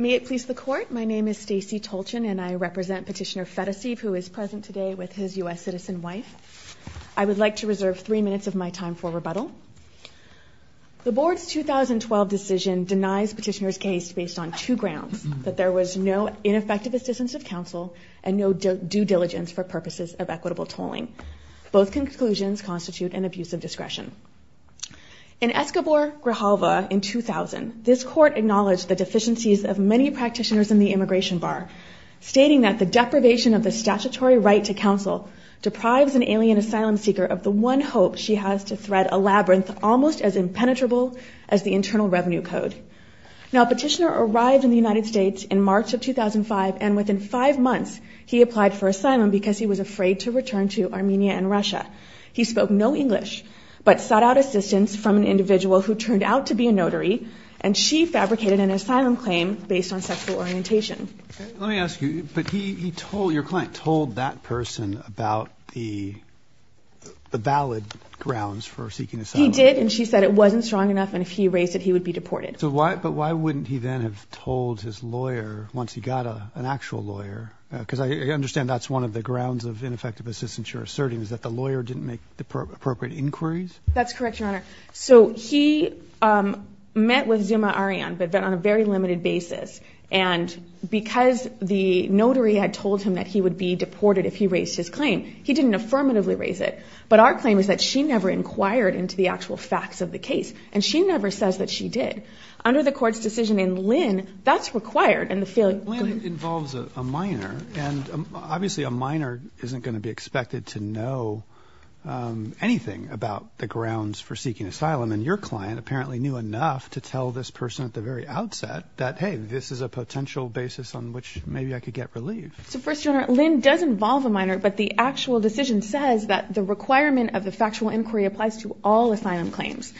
May it please the Court, my name is Stacey Tolchin and I represent Petitioner Fedoseev who is present today with his U.S. citizen wife. I would like to reserve three minutes of my time for rebuttal. The Board's 2012 decision denies Petitioner's case based on two grounds, that there was no ineffective assistance of counsel and no due diligence for purposes of equitable tolling. Both conclusions constitute an abuse of discretion. In Escobar Grijalva in 2000, this Court acknowledged the deficiencies of many practitioners in the immigration bar, stating that the deprivation of the statutory right to counsel deprives an alien asylum seeker of the one hope she has to thread a labyrinth almost as impenetrable as the Internal Revenue Code. Now Petitioner arrived in the United States in March of 2005 and within five months he applied for asylum because he was afraid to return to Armenia and Russia. He spoke no English but sought out assistance from an individual who turned out to be a notary and she fabricated an asylum claim based on sexual orientation. Let me ask you, but he told, your client told that person about the valid grounds for seeking asylum. He did and she said it wasn't strong enough and if he erased it he would be deported. But why wouldn't he then have told his lawyer once he got an actual lawyer, because I understand that's one of the grounds of ineffective assistance you're asserting, is that the lawyer didn't make the appropriate inquiries? That's correct, Your Honor. So he met with Zuma Aryan but then on a very limited basis and because the notary had told him that he would be deported if he raised his claim, he didn't affirmatively raise it. But our claim is that she never inquired into the actual facts of the case and she never says that she did. Under the circumstances, obviously a minor isn't going to be expected to know anything about the grounds for seeking asylum and your client apparently knew enough to tell this person at the very outset that, hey, this is a potential basis on which maybe I could get relief. So First Your Honor, Lynn does involve a minor but the actual decision says that the requirement of the factual inquiry applies to all asylum claims.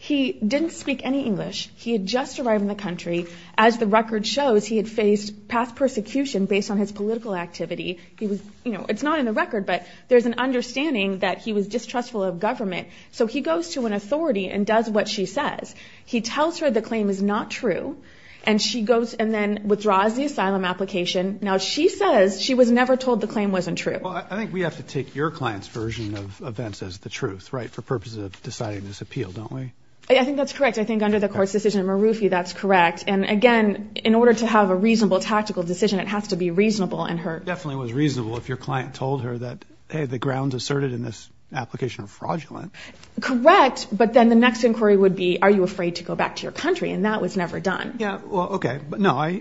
He didn't speak any English. He had just arrived in the country. As the record shows, he had faced past persecution based on his political activity. It's not in the record but there's an understanding that he was distrustful of government. So he goes to an authority and does what she says. He tells her the claim is not true and then withdraws the asylum application. Now she says she was never told the claim wasn't true. I think we have to take your client's version of events as the truth, right, for purposes of deciding this appeal, don't we? I think that's correct. I think under the Court's decision in Marufi, that's correct. And again, in order to have a reasonable tactical decision, it has to be reasonable. It definitely was reasonable if your client told her that, hey, the grounds asserted in this application are fraudulent. Correct. But then the next inquiry would be, are you afraid to go back to your country? And that was never done. Yeah. Well, OK. No, I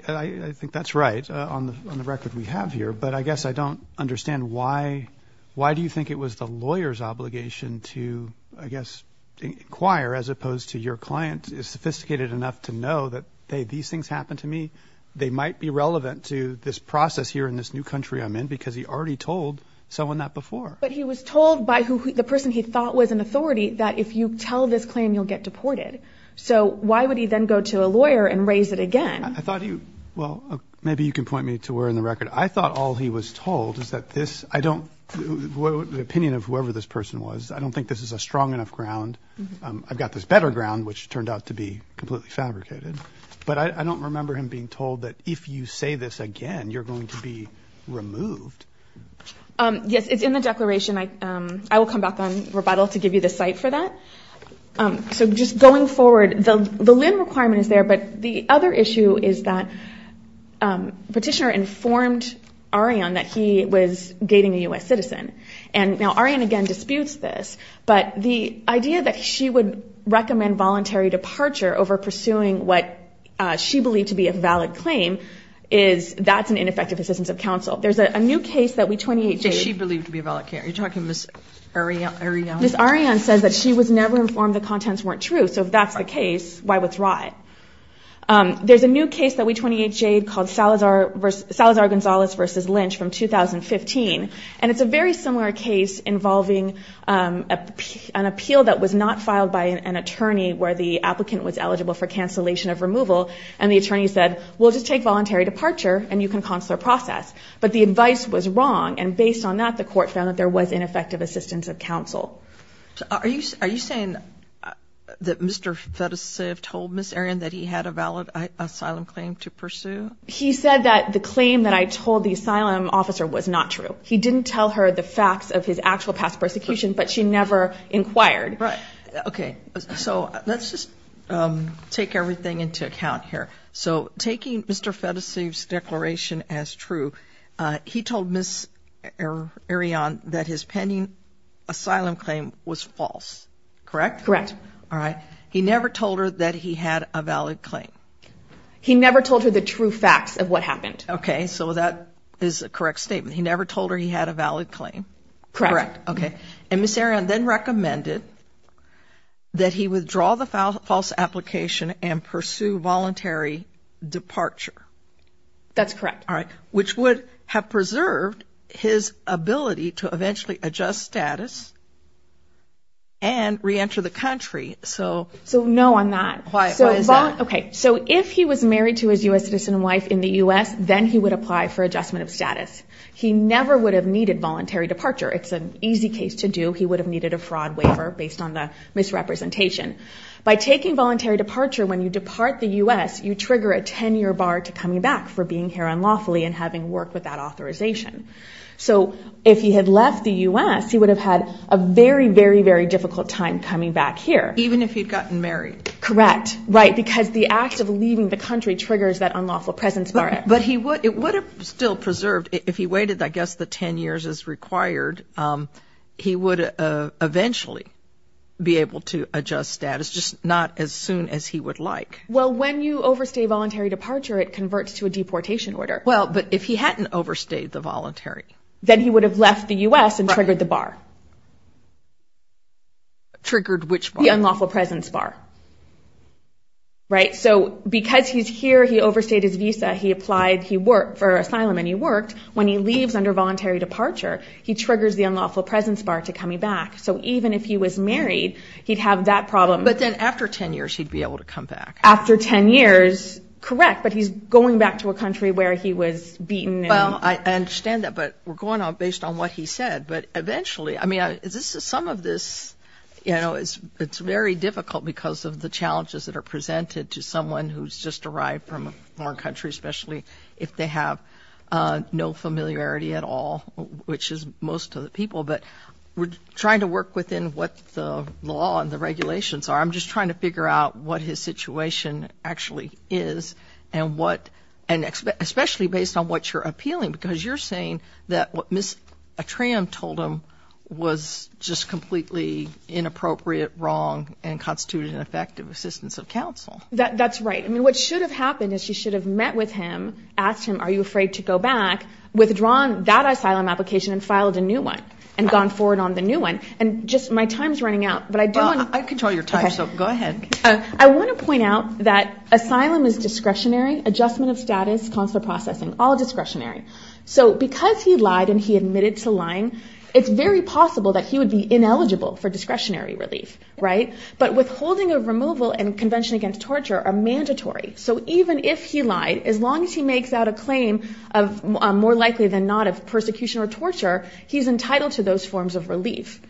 think that's right on the record we have here. But I guess I don't understand why. Why do you think it was the lawyer's obligation to, I guess, inquire as opposed to your client is sophisticated enough to know that, hey, these things happened to me. They might be relevant to this process here in this new country I'm in because he already told someone that before. But he was told by who the person he thought was an authority that if you tell this claim, you'll get deported. So why would he then go to a lawyer and raise it again? I thought you well, maybe you can point me to where in the record I thought all he was told is that this I don't know the opinion of whoever this person was. I don't think this is a strong enough ground. I've got this better ground, which turned out to be completely fabricated. But I don't remember him being told that if you say this again, you're going to be removed. Yes, it's in the declaration. I will come back on rebuttal to give you the site for that. So just going forward, the limb requirement is there. But the other issue is that petitioner informed Ariane that he was dating a US citizen. And now Ariane again disputes this. But the idea that she would recommend voluntary departure over pursuing what she believed to be a valid claim is that's an ineffective assistance of counsel. There's a new case that we 28J'd. Is she believed to be a valid claim? Are you talking about Ms. Ariane? Ms. Ariane says that she was never informed the contents weren't true. So if that's the case, why withdraw it? There's a new case that we 28J'd called Salazar-Gonzalez v. Lynch from 2015. And it's a very similar case involving an appeal that was not filed by an attorney where the applicant was eligible for cancellation of removal. And the attorney said, we'll just take voluntary departure and you can consular process. But the advice was wrong. And based on that, the court found that there was ineffective assistance of counsel. Are you saying that Mr. Fedosev told Ms. Ariane that he had a valid asylum claim to pursue? He said that the claim that I told the asylum officer was not true. He didn't tell her the facts of his actual past persecution, but she never inquired. Right. Okay. So let's just take everything into account here. So taking Mr. Fedosev's declaration as true, he told Ms. Ariane that his pending asylum claim was false. Correct? Correct. All right. He never told her that he had a valid claim? He never told her the true facts of what happened. Okay. So that is a correct statement. He never told her he had a valid claim? Correct. Okay. And Ms. Ariane then recommended that he withdraw the false application and pursue voluntary departure? That's correct. All right. Which would have preserved his ability to eventually adjust status and re-enter the country? So no on that. Why is that? Okay. So if he was married to his U.S. citizen wife in the U.S., then he would apply for adjustment of status. He never would have needed voluntary departure. It's an easy case to do. He would have needed a fraud waiver based on the misrepresentation. By taking voluntary departure, when you depart the U.S., you trigger a 10-year bar to coming back for being here unlawfully and having worked without authorization. So if he had left the U.S., he would have had a very, very, very difficult time coming back here. Even if he'd gotten married? Correct. Right. Because the act of leaving the country triggers that unlawful presence bar. But it would have still preserved, if he waited, I guess, the 10 years as required, he would eventually be able to adjust status, just not as soon as he would like. Well, when you overstay voluntary departure, it converts to a deportation order. But if he hadn't overstayed the voluntary? Then he would have left the U.S. and triggered the bar. Triggered which bar? The unlawful presence bar. So because he's here, he overstayed his visa, he applied for asylum and he worked. When he leaves under voluntary departure, he triggers the unlawful presence bar to coming back. So even if he was married, he'd have that problem. But then after 10 years, he'd be able to come back. After 10 years, correct. But he's going back to a country where he was beaten. Well, I understand that. But we're going on based on what he said. But eventually, I mean, this is some of this, you know, it's very difficult because of the challenges that are presented to someone who's just arrived from a foreign country, especially if they have no familiarity at all, which is most of the people. But we're trying to work within what the law and the regulations are. I'm just trying to understand what the situation actually is and what, and especially based on what you're appealing, because you're saying that what Ms. Atrium told him was just completely inappropriate, wrong, and constituted an effective assistance of counsel. That's right. I mean, what should have happened is you should have met with him, asked him, are you afraid to go back, withdrawn that asylum application and filed a new one and gone forward on the new one. And just my time's running out, but I do want... I control your time, so go ahead. I want to point out that asylum is discretionary, adjustment of status, consular processing, all discretionary. So because he lied and he admitted to lying, it's very possible that he would be ineligible for discretionary relief, right? But withholding of removal and convention against torture are mandatory. So even if he lied, as long as he makes out a claim of more likely than not of persecution or torture, he's entitled to those forms of relief.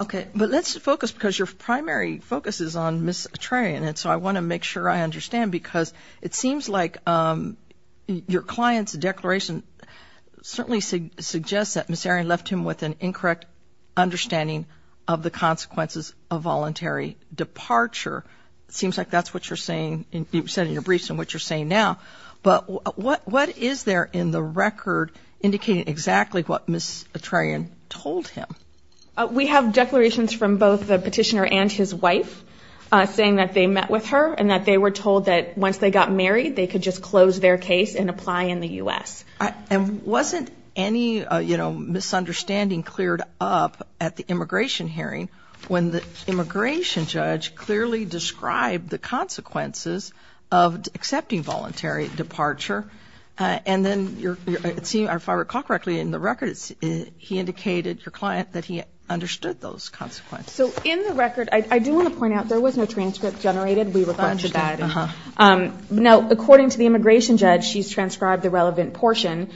Okay. But let's focus, because your primary focus is on Ms. Atrium. And so I want to make sure I understand, because it seems like your client's declaration certainly suggests that Ms. Atrium left him with an incorrect understanding of the consequences of voluntary departure. It seems like that's what you're saying, you said in your briefs and what you're saying now. But what is there in the record indicating exactly what Ms. Atrium told him? We have declarations from both the petitioner and his wife saying that they met with her and that they were told that once they got married, they could just close their case and apply in the U.S. And wasn't any, you know, misunderstanding cleared up at the immigration hearing when the immigration judge clearly described the consequences of accepting voluntary departure? And then, if I recall correctly, in the record, he indicated, your client, that he understood those consequences. So in the record, I do want to point out, there was no transcript generated. We requested that. Now, according to the immigration judge, she's transcribed the relevant portion.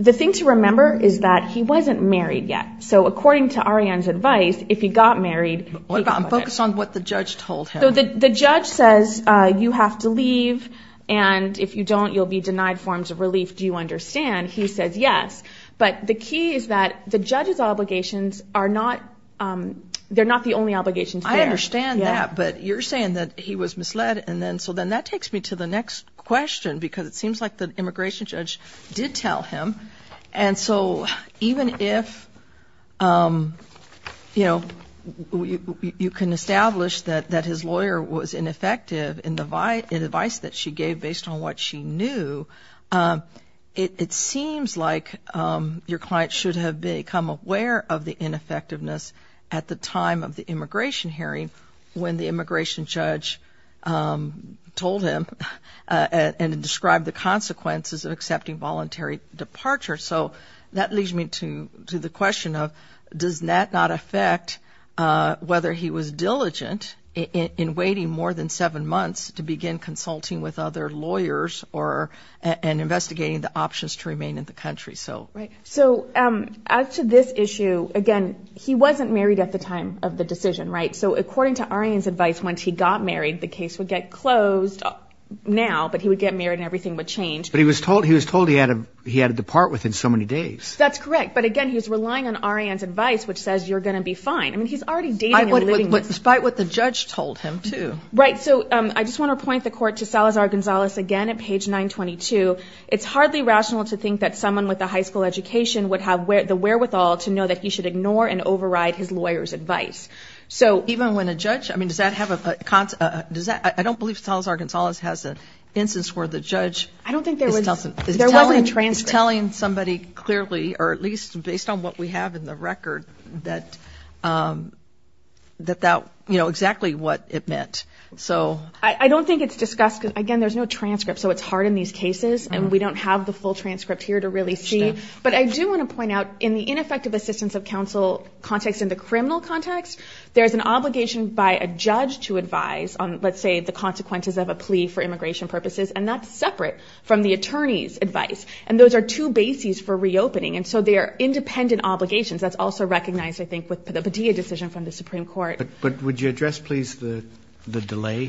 The thing to remember is that he wasn't married yet. So according to Arianne's advice, if he got married, he could quit. Focus on what the judge told him. The judge says, you have to leave. And if you don't, you'll be denied forms of relief. Do you understand? He says, yes. But the key is that the judge's obligations are not, they're not the only obligations. I understand that. But you're saying that he was misled. And then so then that takes me to the next question, because it seems like the immigration judge did tell him. And so even if, you know, you can establish that his lawyer was ineffective in the advice that she gave based on what she knew, it seems like your client should have become aware of the ineffectiveness at the time of the immigration hearing, when the immigration judge told him and described the consequences of accepting voluntary departure. So that leads me to the question of, does that not affect whether he was diligent in waiting more than seven months to begin consulting with other lawyers or, and investigating the options to remain in the country? So, right. So as to this issue, again, he wasn't married at the time of the decision, right? So according to Arianne's advice, once he got married, the case would get closed now, but he would get married and everything would change. But he was told, he was told he had to, he had to depart within so many days. That's correct. But again, he was relying on Arianne's advice, which says you're going to be fine. I mean, he's already dating and living with... Despite what the judge told him too. Right. So I just want to point the court to Salazar-Gonzalez again at page 922. It's hardly rational to think that someone with a high school education would have the wherewithal to know that he should ignore and override his lawyer's advice. So even when a judge, I mean, does that have a, does that, I don't believe Salazar-Gonzalez has an instance where the judge is telling somebody clearly, or at least based on what we have in the record that, that that, you know, exactly what it meant. So I don't think it's discussed because again, there's no transcript. So it's hard in these cases and we don't have the full transcript here to really see. But I do want to point out in the ineffective assistance of counsel context in the criminal context, there's an obligation by a judge to advise on, let's say, the consequences of a plea for immigration purposes. And that's separate from the attorney's advice. And those are two bases for reopening. And so they are independent obligations. That's also recognized, I think, with the Padilla decision from the Supreme Court. But would you address please the delay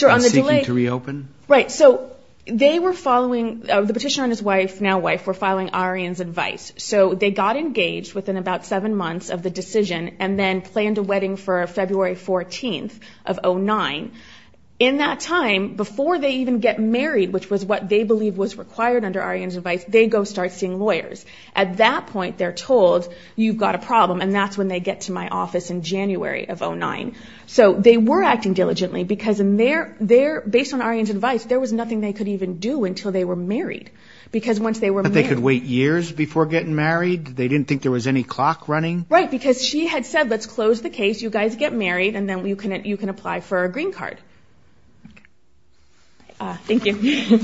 in seeking to reopen? Right. So they were following, the petitioner and his wife, now wife, were following Arianne's advice. So they got engaged within about seven months of the decision and then planned a wedding for February 14th of 09. In that time, before they even get married, which was what they believe was required under Arianne's advice, they go start seeing lawyers. At that point, they're told, you've got a problem. And that's when they get to my office in January of 09. So they were acting diligently because in their, based on Arianne's advice, there was nothing they could even do until they were married. Because once they were married... But they could wait years before getting married? They didn't think there was any clock running? Right. Because she had said, let's close the case. You guys get married and then you can apply for a green card. Thank you.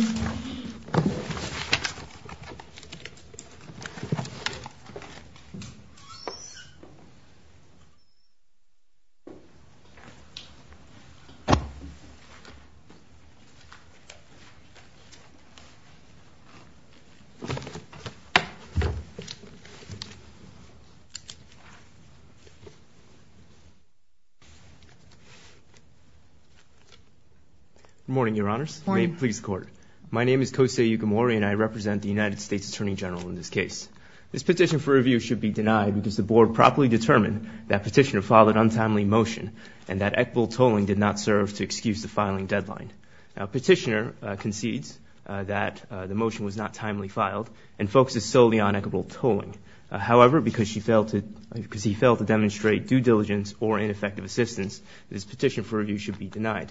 Good morning, your honors. Good morning. May it please the court. My name is Kosei Yukimori and I represent the United States Attorney General in this case. This petition for review should be denied because the board properly determined that petitioner filed an untimely motion and that equitable tolling did not serve to excuse the filing deadline. Now, petitioner concedes that the motion was not timely filed and focuses solely on equitable tolling. However, because he failed to demonstrate due diligence or ineffective assistance, this petition for review should be denied.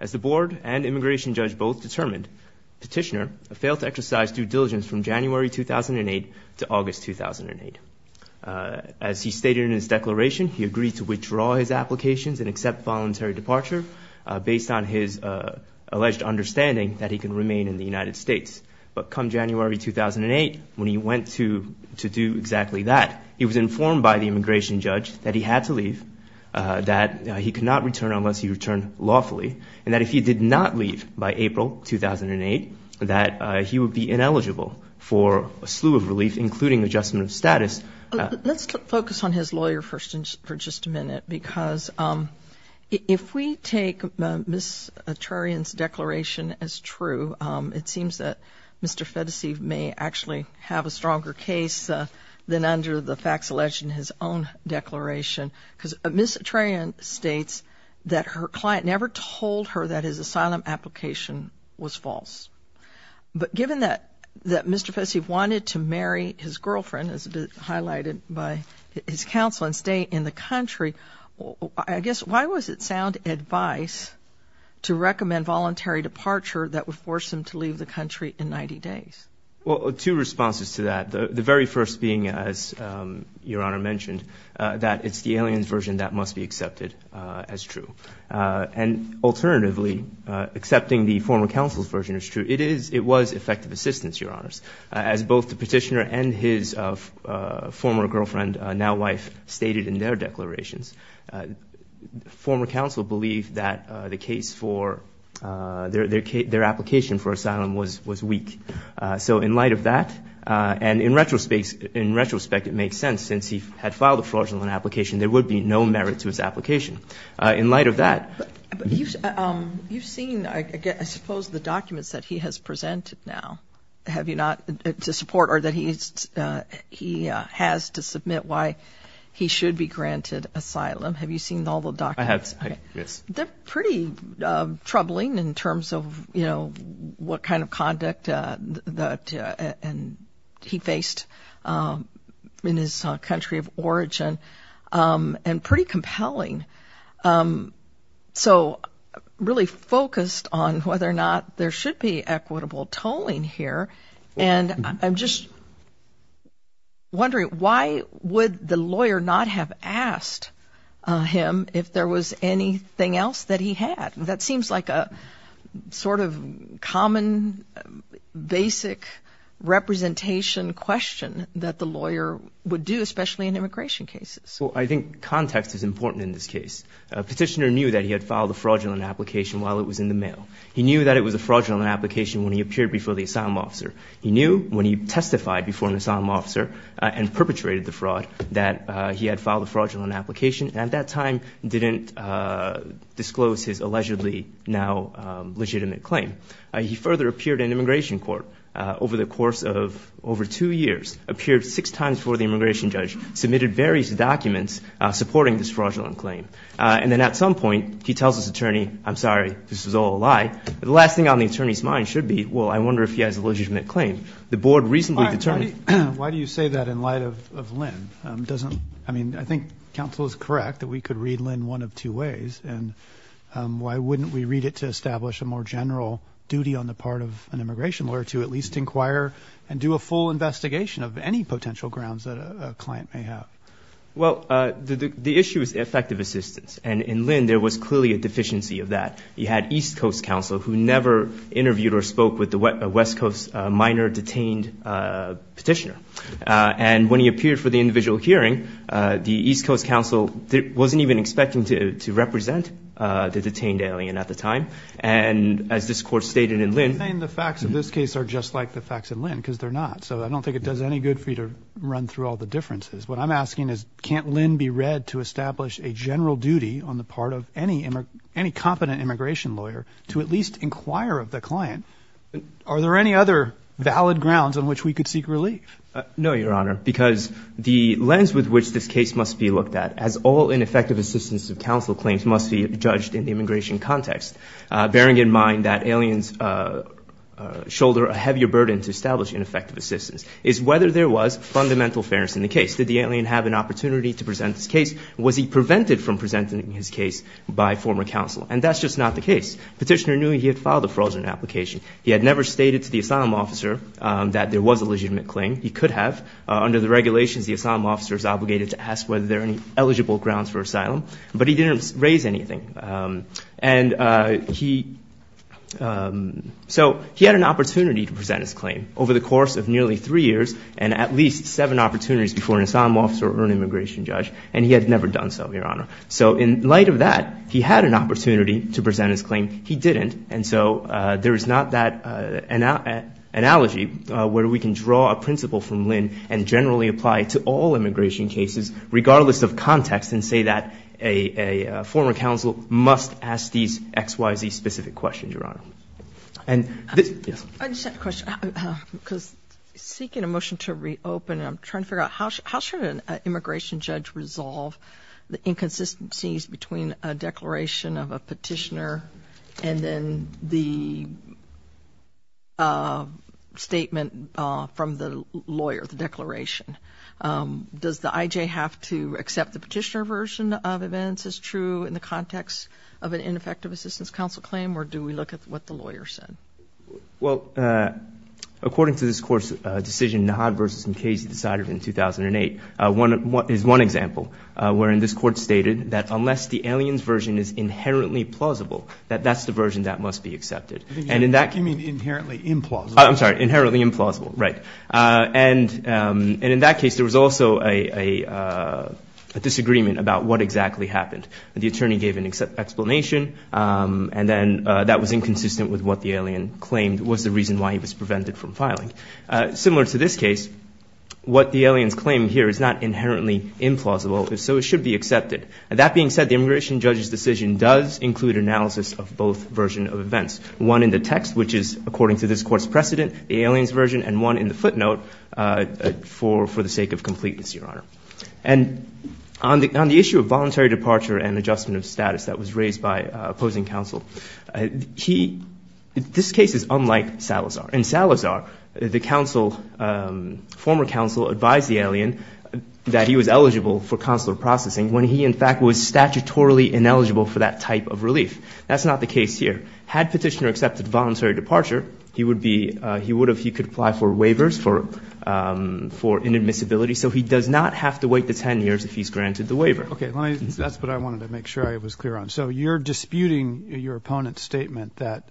As the board and immigration judge both determined, petitioner failed to exercise due diligence from January 2008 to August 2008. As he stated in his declaration, he agreed to withdraw his applications and accept voluntary departure based on his alleged understanding that he can remain in the United States. But come January 2008, when he went to do exactly that, he was informed by the immigration judge that he had to leave, that he could not return unless he returned lawfully, and that if he did not leave by April 2008, that he would be ineligible for a slew of relief, including adjustment of status. Let's focus on his lawyer first for just a minute, because if we take Ms. Atrarian's declaration as true, it seems that Mr. Fedese may actually have a stronger case than under the facts alleged in his own declaration, because Ms. Atrarian states that her client never told her that his asylum application was false. But given that Mr. Fedese wanted to marry his girlfriend, as highlighted by his counsel, and stay in the country, I guess, why was it sound advice to recommend voluntary departure that would force him to leave the country in 90 days? Well, two responses to that. The very first being, as Your Honor mentioned, that it's the alien's version that must be accepted as true. And alternatively, accepting the former counsel's version is true. It is, it was effective assistance, Your Honors, as both the petitioner and his former girlfriend, now wife, stated in their declarations. Former counsel believed that the case for their application for asylum was weak. So in light of that, and in retrospect, it makes sense, since he had filed a fraudulent application, there would be no merit to his application. In light of that... You've seen, I suppose, the documents that he has presented now. Have you not? To support, or that he has to submit why he should be granted asylum. Have you seen all the documents? I have, yes. They're pretty troubling in terms of, you know, what kind of conduct that he faced in his country of origin, and pretty compelling. So, really focused on whether or not there should be equitable tolling here. And I'm just wondering, why would the lawyer not have asked him if there was anything else that he had? That seems like a sort of common, basic representation question that the lawyer would do, especially in immigration cases. I think context is important in this case. A petitioner knew that he had filed a fraudulent application while it was in the mail. He knew that it was a fraudulent application when he appeared before the asylum officer. He knew when he testified before an asylum officer, and perpetrated the fraud, that he had filed a fraudulent application. At that time, didn't disclose his allegedly now legitimate claim. He further appeared in immigration court over the course of over two years, appeared six times before the immigration judge, submitted various documents supporting this fraudulent claim. And then at some point, he tells his attorney, I'm sorry, this was all a lie. But the last thing on the attorney's mind should be, well, I wonder if he has a legitimate claim. The board recently determined- Why do you say that in light of Lynn? I mean, I think counsel is correct that we could read Lynn one of two ways. And why wouldn't we read it to establish a more general duty on the part of an immigration lawyer to at least inquire and do a full investigation of any potential grounds that a client may have? Well, the issue is effective assistance. And in Lynn, there was clearly a deficiency of that. He had East Coast counsel who never interviewed or spoke with the West Coast minor detained petitioner. And when he appeared for the individual hearing, the East Coast counsel wasn't even expecting to represent the detained alien at the time. And as this court stated in Lynn- Just like the facts in Lynn, because they're not. So I don't think it does any good for you to run through all the differences. What I'm asking is, can't Lynn be read to establish a general duty on the part of any competent immigration lawyer to at least inquire of the client? Are there any other valid grounds on which we could seek relief? No, Your Honor, because the lens with which this case must be looked at, as all ineffective assistance of counsel claims must be judged in the immigration context, bearing in mind that aliens shoulder a heavier burden to establish ineffective assistance, is whether there was fundamental fairness in the case. Did the alien have an opportunity to present his case? Was he prevented from presenting his case by former counsel? And that's just not the case. Petitioner knew he had filed a frozen application. He had never stated to the asylum officer that there was a legitimate claim. He could have. Under the regulations, the asylum officer is obligated to ask whether there are any eligible grounds for asylum. But he didn't raise anything. And so he had an opportunity to present his claim over the course of nearly three years, and at least seven opportunities before an asylum officer or an immigration judge. And he had never done so, Your Honor. So in light of that, he had an opportunity to present his claim. He didn't. And so there is not that analogy where we can draw a principle from Lynn and generally apply to all immigration cases, regardless of context, and say that a former counsel must ask these X, Y, Z specific questions, Your Honor. And yes. I just have a question. Because seeking a motion to reopen, I'm trying to figure out how should an immigration judge resolve the inconsistencies between a declaration of a petitioner and then the statement from the lawyer, the declaration? Does the IJ have to accept the petitioner version of events as true in the context of an ineffective assistance counsel claim? Or do we look at what the lawyer said? Well, according to this Court's decision, Nod v. Casey decided in 2008, is one example wherein this Court stated that unless the alien's version is inherently plausible, that that's the version that must be accepted. And in that- You mean inherently implausible. I'm sorry. Inherently implausible. Right. And in that case, there was also a disagreement about what exactly happened. The attorney gave an explanation, and then that was inconsistent with what the alien claimed was the reason why he was prevented from filing. Similar to this case, what the alien's claim here is not inherently implausible. If so, it should be accepted. That being said, the immigration judge's decision does include analysis of both versions of events. One in the text, which is according to this Court's precedent, the alien's version, and one in the footnote for the sake of completeness, Your Honor. And on the issue of voluntary departure and adjustment of status that was raised by opposing counsel, this case is unlike Salazar. In Salazar, the former counsel advised the alien that he was eligible for consular processing when he, in fact, was statutorily ineligible for that type of relief. That's not the case here. Had Petitioner accepted voluntary departure, he could apply for waivers for inadmissibility. So he does not have to wait the 10 years if he's granted the waiver. Okay. That's what I wanted to make sure I was clear on. So you're disputing your opponent's statement that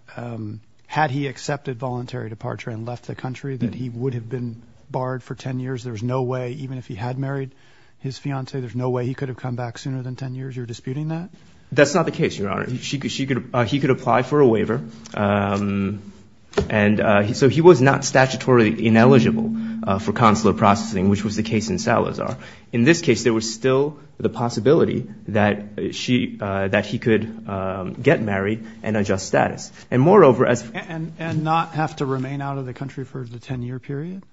had he accepted voluntary departure and left the country, that he would have been barred for 10 years. There's no way, even if he had married his fiancée, there's no way he could have come back sooner than 10 years. You're disputing that? That's not the case, Your Honor. He could apply for a waiver. And so he was not statutorily ineligible for consular processing, which was the case in Salazar. In this case, there was still the possibility that he could get married and adjust status. And moreover, as— And not have to remain out of the country for the 10-year period?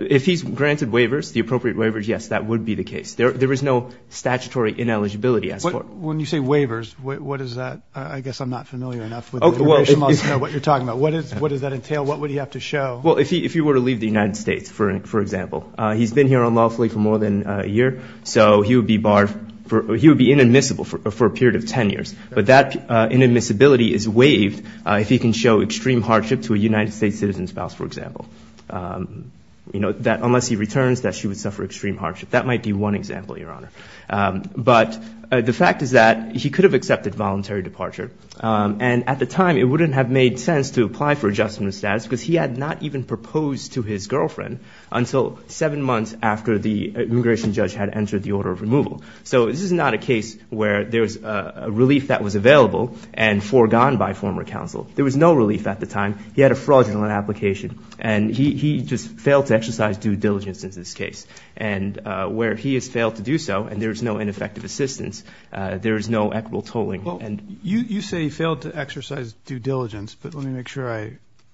If he's granted waivers, the appropriate waivers, yes, that would be the case. There is no statutory ineligibility as far— When you say waivers, what is that? I guess I'm not familiar enough with the information. I'll just know what you're talking about. What does that entail? What would he have to show? Well, if he were to leave the United States, for example. He's been here unlawfully for more than a year, so he would be barred—he would be inadmissible for a period of 10 years. But that inadmissibility is waived if he can show extreme hardship to a United States citizen spouse, for example. Unless he returns, she would suffer extreme hardship. That might be one example, Your Honor. But the fact is that he could have accepted voluntary departure. And at the time, it wouldn't have made sense to apply for adjustment of status because he had not even proposed to his girlfriend until seven months after the immigration judge had entered the order of removal. So this is not a case where there's a relief that was available and foregone by former counsel. There was no relief at the time. He had a fraudulent application. And he just failed to exercise due diligence in this case. And where he has failed to do so, and there's no ineffective assistance, there is no equitable tolling. Well, you say he failed to exercise due diligence, but let me make sure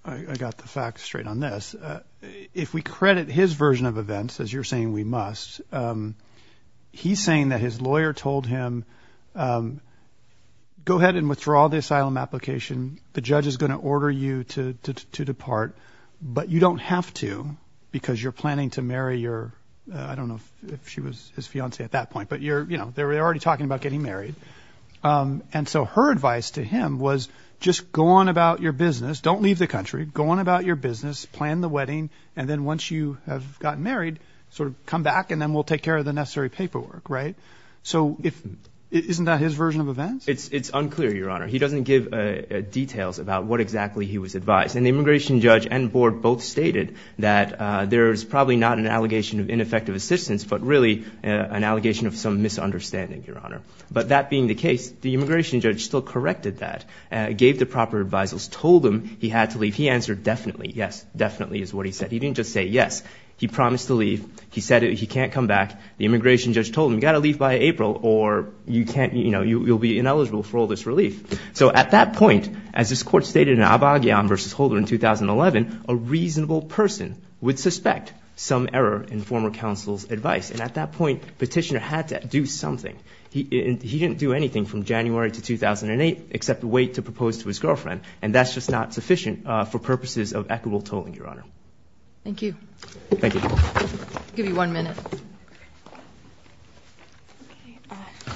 I got the facts straight on this. If we credit his version of events, as you're saying we must, he's saying that his lawyer told him, go ahead and withdraw the asylum application. The judge is going to order you to depart, but you don't have to because you're planning to marry your, I don't know if she was his fiancee at that point, but you're, you know, they're already talking about getting married. And so her advice to him was just go on about your business. Don't leave the country. Go on about your business, plan the wedding. And then once you have gotten married, sort of come back and then we'll take care of the necessary paperwork. Right? So isn't that his version of events? It's unclear, Your Honor. He doesn't give details about what exactly he was advised. And the immigration judge and board both stated that there's probably not an allegation of ineffective assistance, but really an allegation of some misunderstanding, Your Honor. But that being the case, the immigration judge still corrected that, gave the proper advisals, told him he had to leave. He answered definitely, yes, definitely is what he said. He didn't just say yes. He promised to leave. He said he can't come back. The immigration judge told him, you got to leave by April or you can't, you know, you'll be ineligible for all this relief. So at that point, as this court stated in Abagian versus Holder in 2011, a reasonable person would suspect some error in former counsel's advice. And at that point, Petitioner had to do something. He didn't do anything from January to 2008 except wait to propose to his girlfriend. And that's just not sufficient for purposes of equitable tolling, Your Honor. Thank you. Thank you. I'll give you one minute.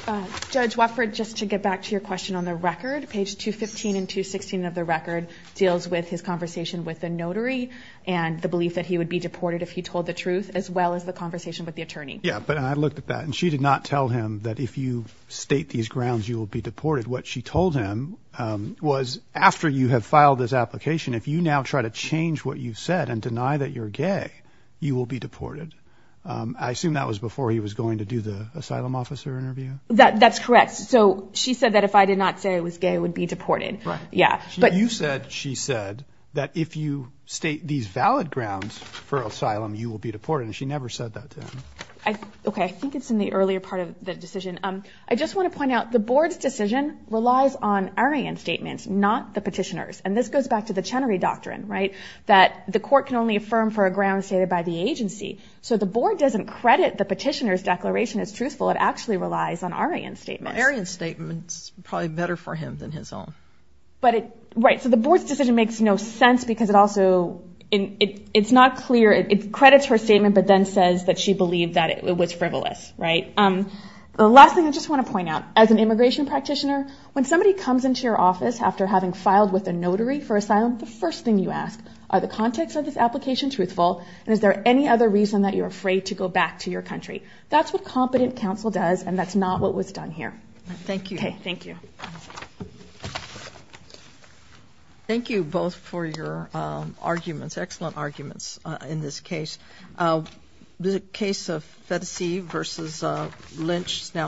Okay. Judge Wofford, just to get back to your question on the record, page 215 and 216 of the record deals with his conversation with the notary and the belief that he would be deported if he told the truth, as well as the conversation with the attorney. Yeah, but I looked at that and she did not tell him that if you state these grounds, you will be deported. What she told him was after you have filed this application, if you now try to change what you've said and deny that you're gay, you will be deported. I assume that was before he was going to do the asylum officer interview? That's correct. So she said that if I did not say I was gay, I would be deported. Right. Yeah. You said she said that if you state these valid grounds for asylum, you will be deported. She never said that to him. Okay. I think it's in the earlier part of the decision. I just want to point out the board's decision relies on Aryan statements, not the petitioners. This goes back to the Chenery Doctrine, right? That the court can only affirm for a ground stated by the agency. So the board doesn't credit the petitioner's declaration as truthful. It actually relies on Aryan statements. Aryan statements are probably better for him than his own. Right. So the board's decision makes no sense because it also, it's not clear. It credits her statement, but then says that she believed that it was frivolous, right? The last thing I just want to point out, as an immigration practitioner, when somebody comes into your office after having filed with a notary for asylum, the first thing you ask, are the context of this application truthful? And is there any other reason that you're afraid to go back to your country? That's what competent counsel does. And that's not what was done here. Thank you. Okay. Thank you. Thank you both for your arguments. Excellent arguments in this case. The case of Phetasy versus Lynch is now.